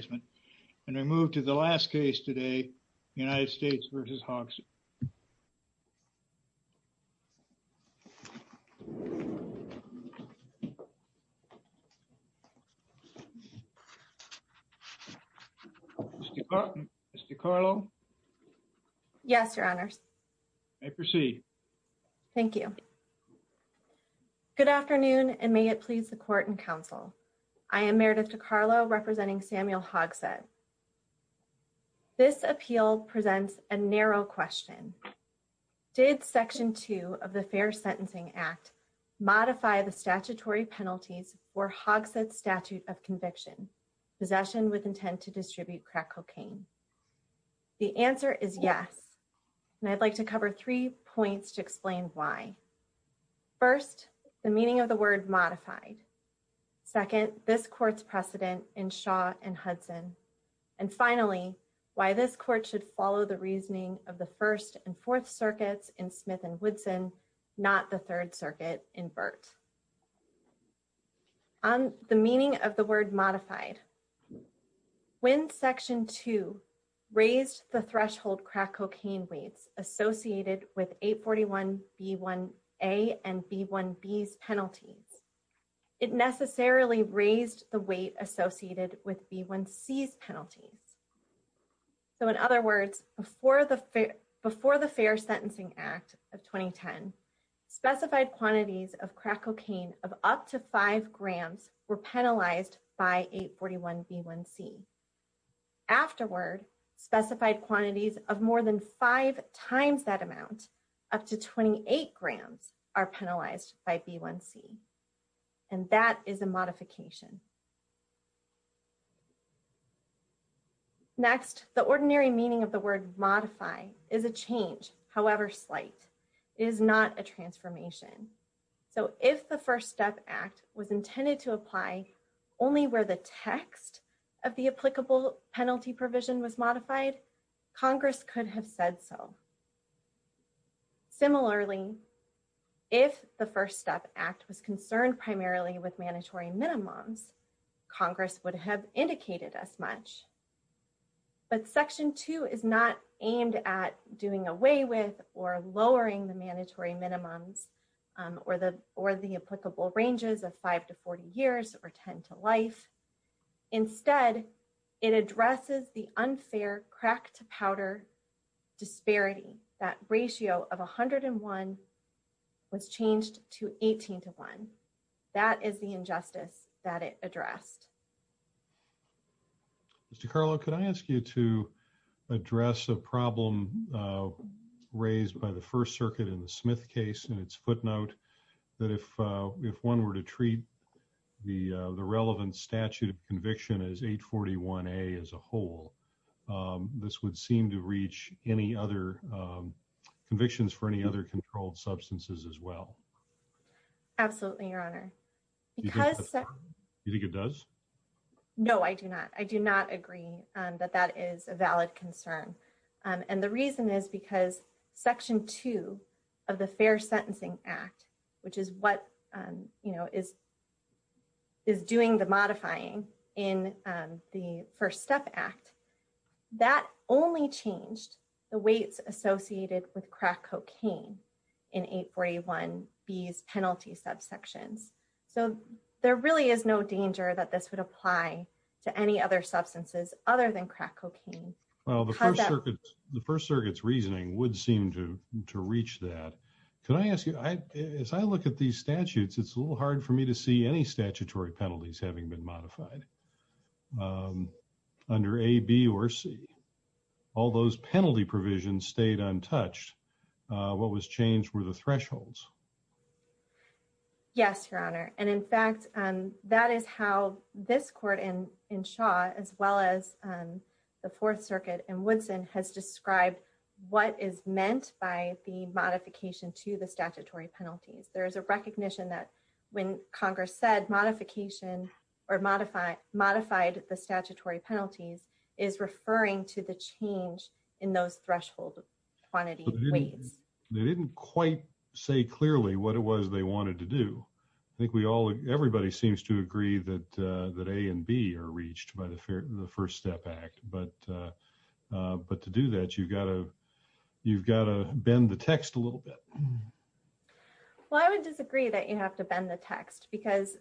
Good afternoon and may it please the court and counsel. I am Meredith DeCarlo representing Samuel Hogsett. This appeal presents a narrow question. Did Section 2 of the Fair Sentencing Act modify the statutory penalties for Hogsett's statute of conviction, possession with intent to distribute crack cocaine? The answer is yes, and I'd like to cover three points to explain why. First, the meaning of the word modified. Second, this court's precedent in Shaw and Hudson. And finally, why this court should follow the reasoning of the First and Fourth Circuits in Smith and Woodson, not the Third Circuit in Burt. On the meaning of the word modified, when Section 2 raised the threshold crack cocaine weights associated with 841B1A and B1B's penalties, it necessarily raised the weight associated with B1C's penalties. So in other words, before the Fair Sentencing Act of 2010, specified quantities of crack cocaine of up to five grams were penalized by 841B1C. Afterward, specified quantities of more than five times that amount, up to 28 grams, are penalized by B1C. And that is a modification. Next, the ordinary meaning of the word modify is a change, however slight. It is not a transformation. So if the First Step Act was intended to apply only where the text of the applicable penalty provision was modified, Congress could have said so. Similarly, if the First Step Act was concerned primarily with mandatory minimums, Congress would have indicated as much. But Section 2 is not aimed at doing away with or lowering the mandatory minimums or the applicable ranges of 5 to 40 years or 10 to life. Instead, it addresses the unfair crack-to-powder disparity. That ratio of 101 was changed to 18 to 1. That is the injustice that it addressed. Ms. DiCarlo, could I ask you to address a problem raised by the First Circuit in the Smith case in its footnote, that if one were to treat the relevant statute of conviction as 841A as a whole, this would seem to reach any other convictions for any other controlled substances as well. Absolutely, Your Honor. You think it does? No, I do not. I do not agree that that is a valid concern. And the reason is because Section 2 of the Fair Sentencing Act, which is what is doing the modifying in the First Step Act, that only changed the weights associated with crack cocaine in 841B's penalty subsections. So there really is no danger that this would apply to any other substances other than crack cocaine. Well, the First Circuit's reasoning would seem to reach that. Can I ask you, as I look at these statutes, it's a little hard for me to see any statutory penalties having been modified under A, B, or C. All those penalty provisions stayed untouched. What was changed were the thresholds. Yes, Your Honor. And in fact, that is how this court in Shaw, as well as the Fourth Circuit in Woodson, has described what is meant by the modification to the statutory penalties. There is a recognition that when Congress said modification or modified the statutory penalties is referring to the change in those threshold quantity weights. They didn't quite say clearly what it was they wanted to do. I think everybody seems to agree that A and B are reached by the First Step Act. But to do that, you've got to bend the text a little bit. Well, I would disagree that you have to bend the text because,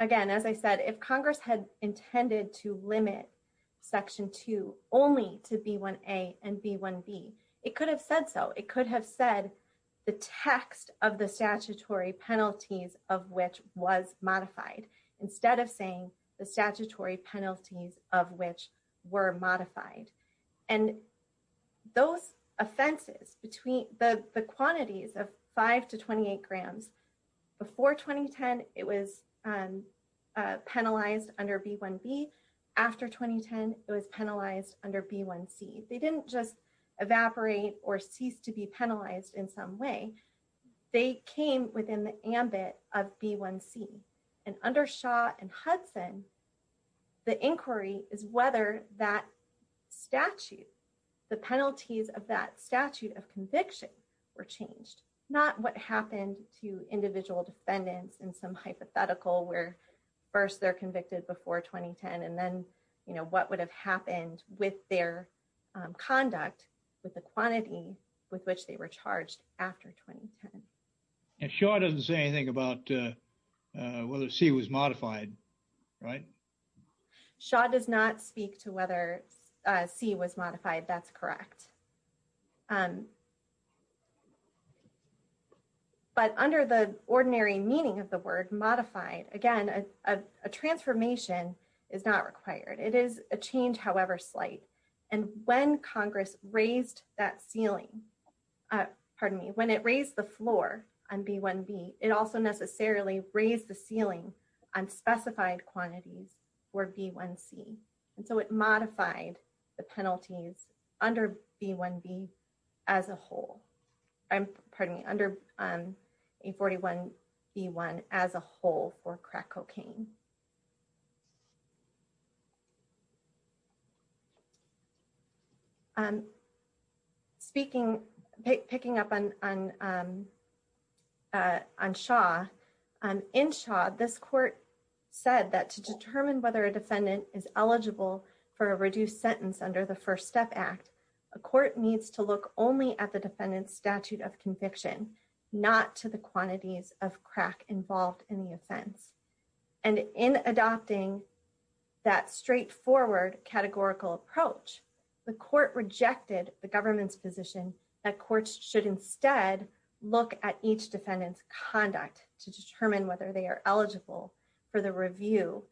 again, as I said, if Congress had intended to limit Section 2 only to B1A and B1B, it could have said so. It could have said the text of the statutory penalties of which was modified instead of saying the statutory penalties of which were modified. And those offenses between the quantities of 5 to 28 grams, before 2010, it was penalized under B1B. After 2010, it was penalized under B1C. They didn't just evaporate or cease to be penalized in some way. They came within the ambit of B1C. And under Shaw and Hudson, the inquiry is whether that statute, the penalties of that statute of conviction were changed, not what happened to individual defendants in some hypothetical where first they're convicted before 2010. And then, you know, what would have happened with their conduct with the quantity with which they were charged after 2010. And Shaw doesn't say anything about whether C was modified, right? Shaw does not speak to whether C was modified. That's correct. But under the ordinary meaning of the word modified, again, a transformation is not required. It is a change, however slight. And when Congress raised that ceiling, pardon me, when it raised the floor on B1B, it also necessarily raised the ceiling on specified quantities for B1C. And so it modified the penalties under B1B as a whole. Pardon me, under 841B1 as a whole for crack cocaine. Speaking, picking up on Shaw, in Shaw, this court said that to determine whether a defendant is eligible for a reduced sentence under the First Step Act, a court needs to look only at the defendant's statute of conviction, not to the quantities of crack involved in the offense. And in adopting that straightforward categorical approach, the court rejected the government's position that courts should instead look at each defendant's conduct to determine whether they are eligible for the review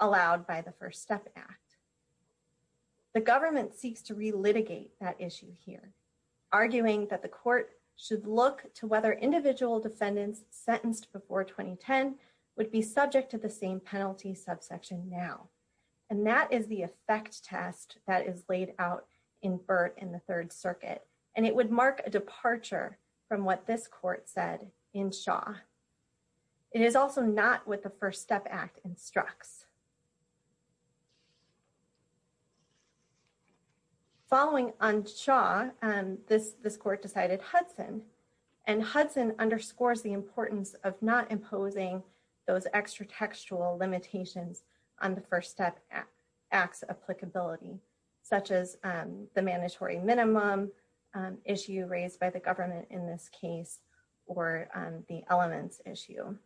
allowed by the First Step Act. The government seeks to relitigate that issue here, arguing that the court should look to whether individual defendants sentenced before 2010 would be subject to the same penalty subsection now. And that is the effect test that is laid out in Burt in the Third Circuit, and it would mark a departure from what this court said in Shaw. It is also not what the First Step Act instructs. Following on Shaw, this court decided Hudson, and Hudson underscores the importance of not imposing those extra textual limitations on the First Step Act's applicability, such as the mandatory minimum issue raised by the government in this case, or the elements issue.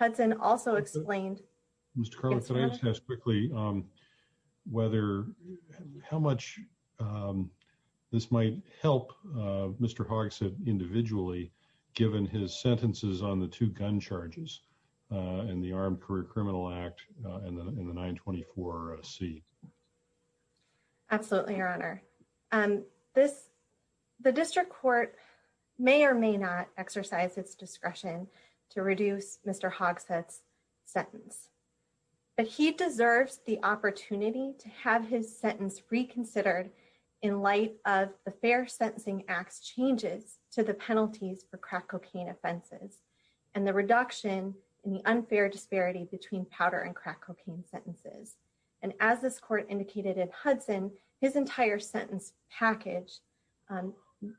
Hudson also explained. Mr. Quickly, whether how much this might help Mr. Hark said individually, given his sentences on the two gun charges in the Armed Career Criminal Act in the 924 C. Absolutely, Your Honor. And this, the district court may or may not exercise its discretion to reduce Mr. And the reduction in the unfair disparity between powder and crack cocaine sentences. And as this court indicated in Hudson, his entire sentence package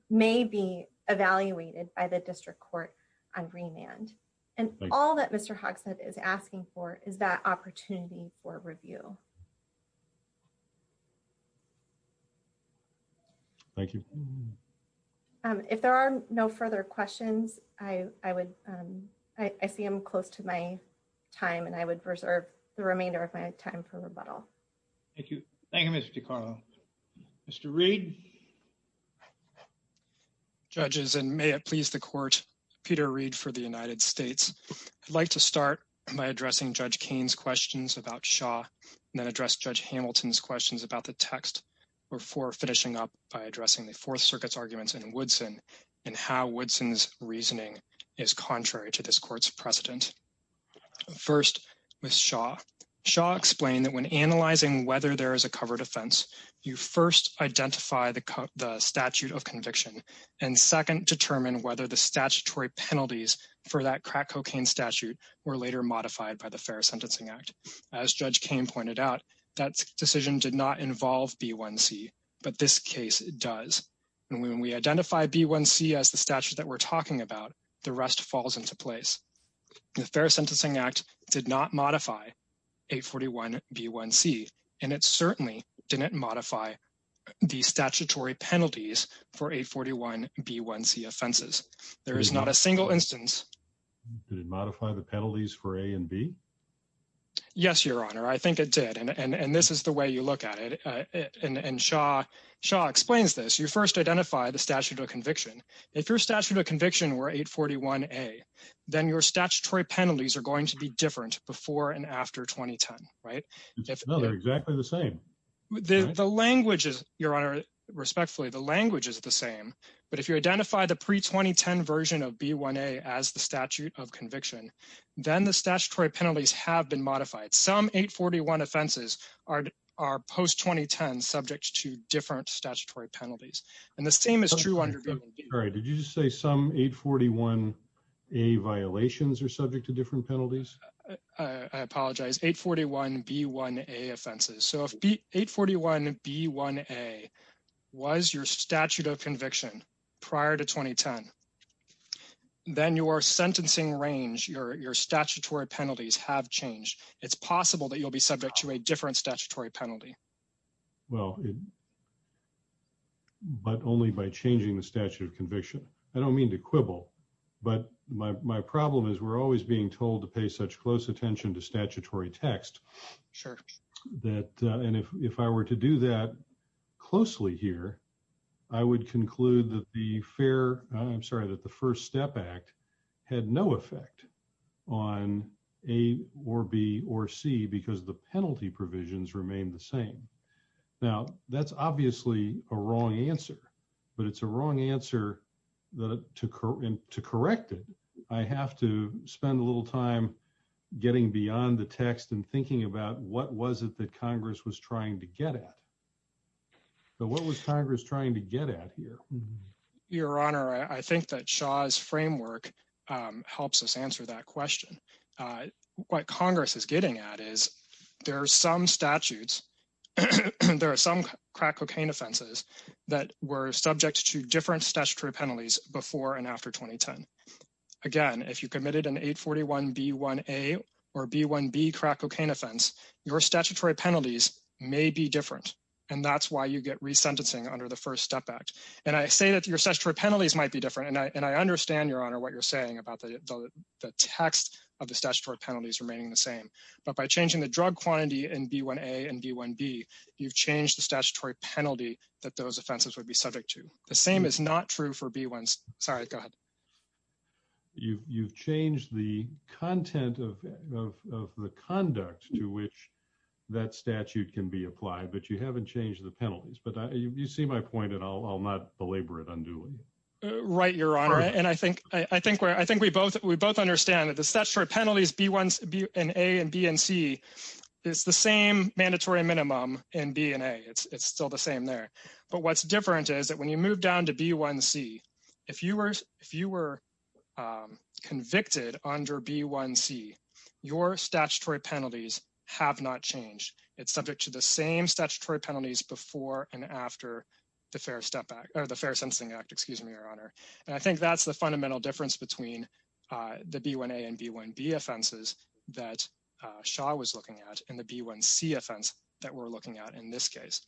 may be evaluated by the district court on remand. And all that Mr. Hark said is asking for is that opportunity for review. Thank you. If there are no further questions, I, I would, I see him close to my time and I would reserve the remainder of my time for rebuttal. Thank you. Mr. Reed. Judges and may it please the court. Peter read for the United States. I'd like to start by addressing Judge Kane's questions about Shaw, and then address Judge Hamilton's questions about the text before finishing up by addressing the Fourth Circuit's arguments in Woodson and how Woodson's reasoning is contrary to this court's precedent. First, with Shaw, Shaw explained that when analyzing whether there is a covered offense, you first identify the statute of conviction and second, determine whether the statutory penalties for that crack cocaine statute were later modified by the Fair Sentencing Act. As Judge Kane pointed out, that decision did not involve B1C, but this case does. And when we identify B1C as the statute that we're talking about, the rest falls into place. The Fair Sentencing Act did not modify 841B1C, and it certainly didn't modify the statutory penalties for 841B1C offenses. There is not a single instance. Did it modify the penalties for A and B? Yes, Your Honor, I think it did. And this is the way you look at it. And Shaw explains this. You first identify the statute of conviction. If your statute of conviction were 841A, then your statutory penalties are going to be different before and after 2010, right? No, they're exactly the same. The language is, Your Honor, respectfully, the language is the same. But if you identify the pre-2010 version of B1A as the statute of conviction, then the statutory penalties have been modified. Some 841 offenses are post-2010 subject to different statutory penalties. And the same is true under B1B. All right. Did you just say some 841A violations are subject to different penalties? I apologize. 841B1A offenses. So if 841B1A was your statute of conviction prior to 2010, then your sentencing range, your statutory penalties have changed. It's possible that you'll be subject to a different statutory penalty. Well, but only by changing the statute of conviction. I don't mean to quibble, but my problem is we're always being told to pay such close attention to statutory text. Sure. And if I were to do that closely here, I would conclude that the first step act had no effect on A or B or C because the penalty provisions remain the same. Now, that's obviously a wrong answer, but it's a wrong answer to correct it. I have to spend a little time getting beyond the text and thinking about what was it that Congress was trying to get at. So what was Congress trying to get at here? Your Honor, I think that Shaw's framework helps us answer that question. What Congress is getting at is there are some statutes, there are some crack cocaine offenses that were subject to different statutory penalties before and after 2010. Again, if you committed an 841B1A or B1B crack cocaine offense, your statutory penalties may be different. And that's why you get resentencing under the first step act. And I say that your statutory penalties might be different, and I understand, Your Honor, what you're saying about the text of the statutory penalties remaining the same. But by changing the drug quantity in B1A and B1B, you've changed the statutory penalty that those offenses would be subject to. The same is not true for B1s. Sorry, go ahead. You've changed the content of the conduct to which that statute can be applied, but you haven't changed the penalties. But you see my point, and I'll not belabor it unduly. Right, Your Honor. And I think we both understand that the statutory penalties B1A and B1C is the same mandatory minimum in B1A. It's still the same there. But what's different is that when you move down to B1C, if you were convicted under B1C, your statutory penalties have not changed. It's subject to the same statutory penalties before and after the Fair Sentencing Act. And I think that's the fundamental difference between the B1A and B1B offenses that Shaw was looking at and the B1C offense that we're looking at in this case.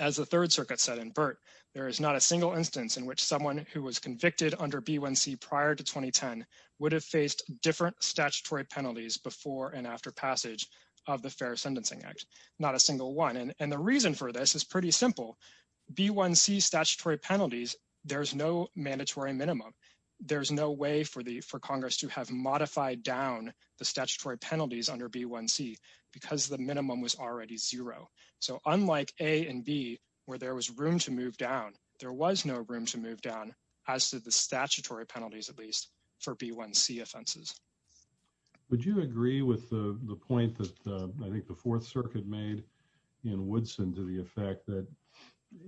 As the Third Circuit said in Burt, there is not a single instance in which someone who was convicted under B1C prior to 2010 would have faced different statutory penalties before and after passage of the Fair Sentencing Act. Not a single one. And the reason for this is pretty simple. B1C statutory penalties, there's no mandatory minimum. There's no way for Congress to have modified down the statutory penalties under B1C because the minimum was already zero. So unlike A and B where there was room to move down, there was no room to move down as to the statutory penalties at least for B1C offenses. Would you agree with the point that I think the Fourth Circuit made in Woodson to the effect that,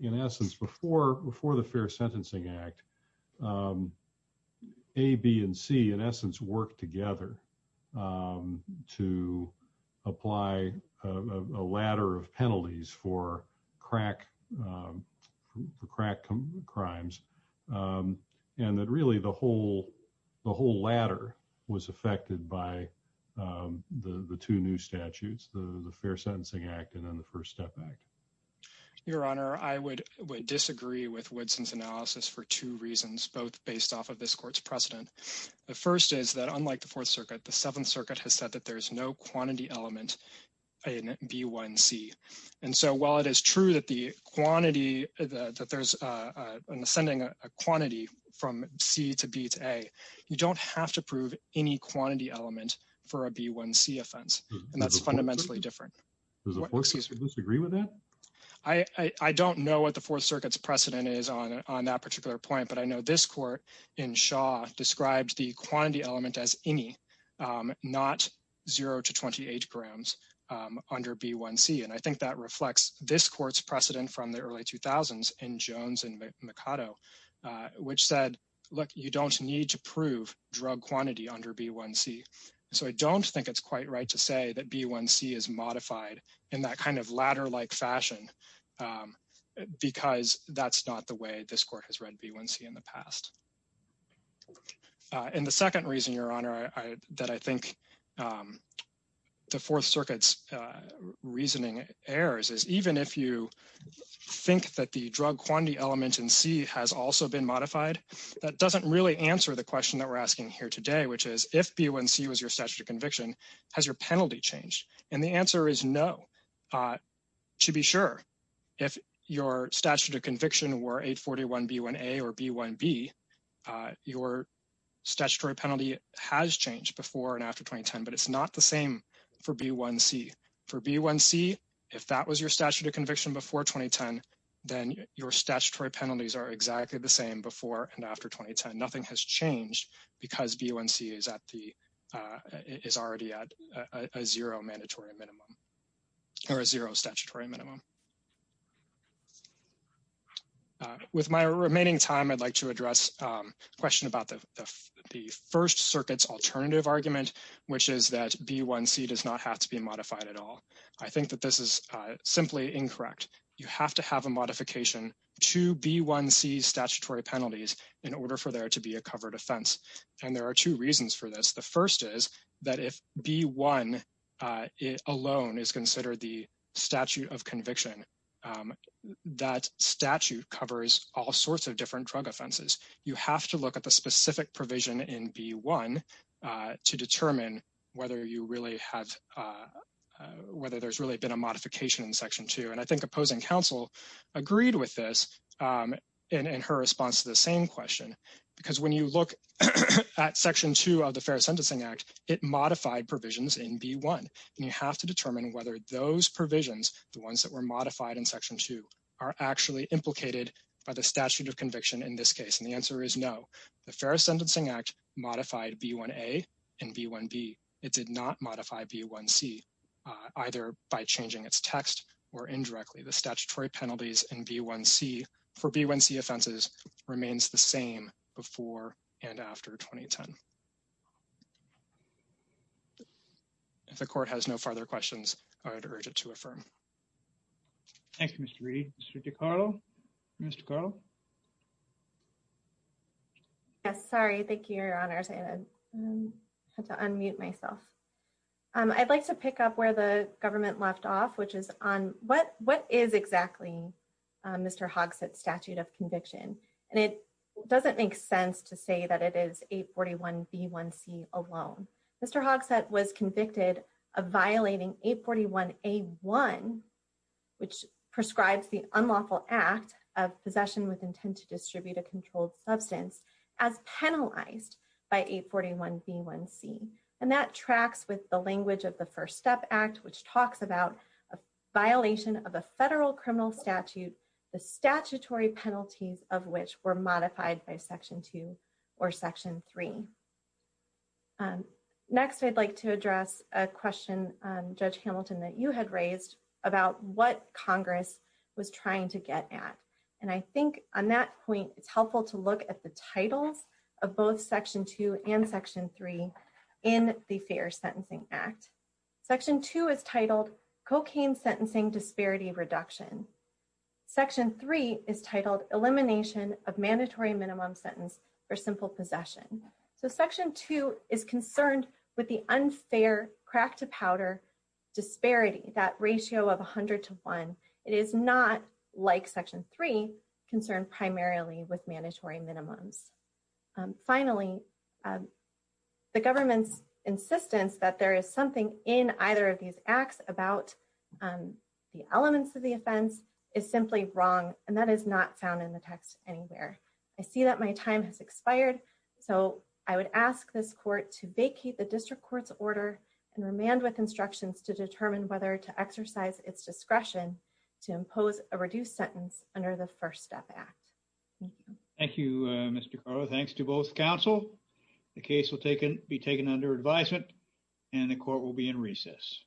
in essence, before the Fair Sentencing Act, A, B, and C, in essence, worked together to apply a ladder of penalties for crack crimes. And that really the whole ladder was affected by the two new statutes, the Fair Sentencing Act and then the First Step Act. Your Honor, I would disagree with Woodson's analysis for two reasons, both based off of this court's precedent. The first is that unlike the Fourth Circuit, the Seventh Circuit has said that there is no quantity element in B1C. And so while it is true that the quantity, that there's an ascending quantity from C to B to A, you don't have to prove any quantity element for a B1C offense. And that's fundamentally different. Does the Fourth Circuit disagree with that? I don't know what the Fourth Circuit's precedent is on that particular point. But I know this court in Shaw described the quantity element as any, not 0 to 28 grams under B1C. And I think that reflects this court's precedent from the early 2000s in Jones and Mikado, which said, look, you don't need to prove drug quantity under B1C. So I don't think it's quite right to say that B1C is modified in that kind of ladder-like fashion because that's not the way this court has read B1C in the past. And the second reason, Your Honor, that I think the Fourth Circuit's reasoning errs is even if you think that the drug quantity element in C has also been modified, that doesn't really answer the question that we're asking here today, which is if B1C was your statute of conviction, has your penalty changed? And the answer is no. To be sure, if your statute of conviction were 841B1A or B1B, your statutory penalty has changed before and after 2010, but it's not the same for B1C. For B1C, if that was your statute of conviction before 2010, then your statutory penalties are exactly the same before and after 2010. Nothing has changed because B1C is already at a zero mandatory minimum or a zero statutory minimum. With my remaining time, I'd like to address a question about the First Circuit's alternative argument, which is that B1C does not have to be modified at all. I think that this is simply incorrect. You have to have a modification to B1C's statutory penalties in order for there to be a covered offense. And there are two reasons for this. The first is that if B1 alone is considered the statute of conviction, that statute covers all sorts of different drug offenses. You have to look at the specific provision in B1 to determine whether there's really been a modification in Section 2. And I think opposing counsel agreed with this in her response to the same question, because when you look at Section 2 of the Fair Sentencing Act, it modified provisions in B1. And you have to determine whether those provisions, the ones that were modified in Section 2, are actually implicated by the statute of conviction in this case. And the answer is no. The Fair Sentencing Act modified B1A and B1B. It did not modify B1C, either by changing its text or indirectly. The statutory penalties in B1C for B1C offenses remains the same before and after 2010. If the Court has no further questions, I would urge it to affirm. Thank you, Mr. Reed. Mr. DeCarlo? Ms. DeCarlo? Yes, sorry. Thank you, Your Honors. I had to unmute myself. I'd like to pick up where the government left off, which is on what is exactly Mr. Hogsett's statute of conviction. And it doesn't make sense to say that it is 841B1C alone. Mr. Hogsett was convicted of violating 841A1, which prescribes the unlawful act of possession with intent to distribute a controlled substance, as penalized by 841B1C. And that tracks with the language of the First Step Act, which talks about a violation of a federal criminal statute, the statutory penalties of which were modified by Section 2 or Section 3. Next, I'd like to address a question, Judge Hamilton, that you had raised about what Congress was trying to get at. And I think on that point, it's helpful to look at the titles of both Section 2 and Section 3 in the Fair Sentencing Act. Section 2 is titled, Cocaine Sentencing Disparity Reduction. Section 3 is titled, Elimination of Mandatory Minimum Sentence for Simple Possession. So Section 2 is concerned with the unfair crack-to-powder disparity, that ratio of 100 to 1. It is not, like Section 3, concerned primarily with mandatory minimums. Finally, the government's insistence that there is something in either of these acts about the elements of the offense is simply wrong, and that is not found in the text anywhere. I see that my time has expired, so I would ask this Court to vacate the District Court's order and remand with instructions to determine whether to exercise its discretion to impose a reduced sentence under the First Step Act. Thank you. Thank you, Mr. Carter. Thanks to both counsel. The case will be taken under advisement, and the Court will be in recess.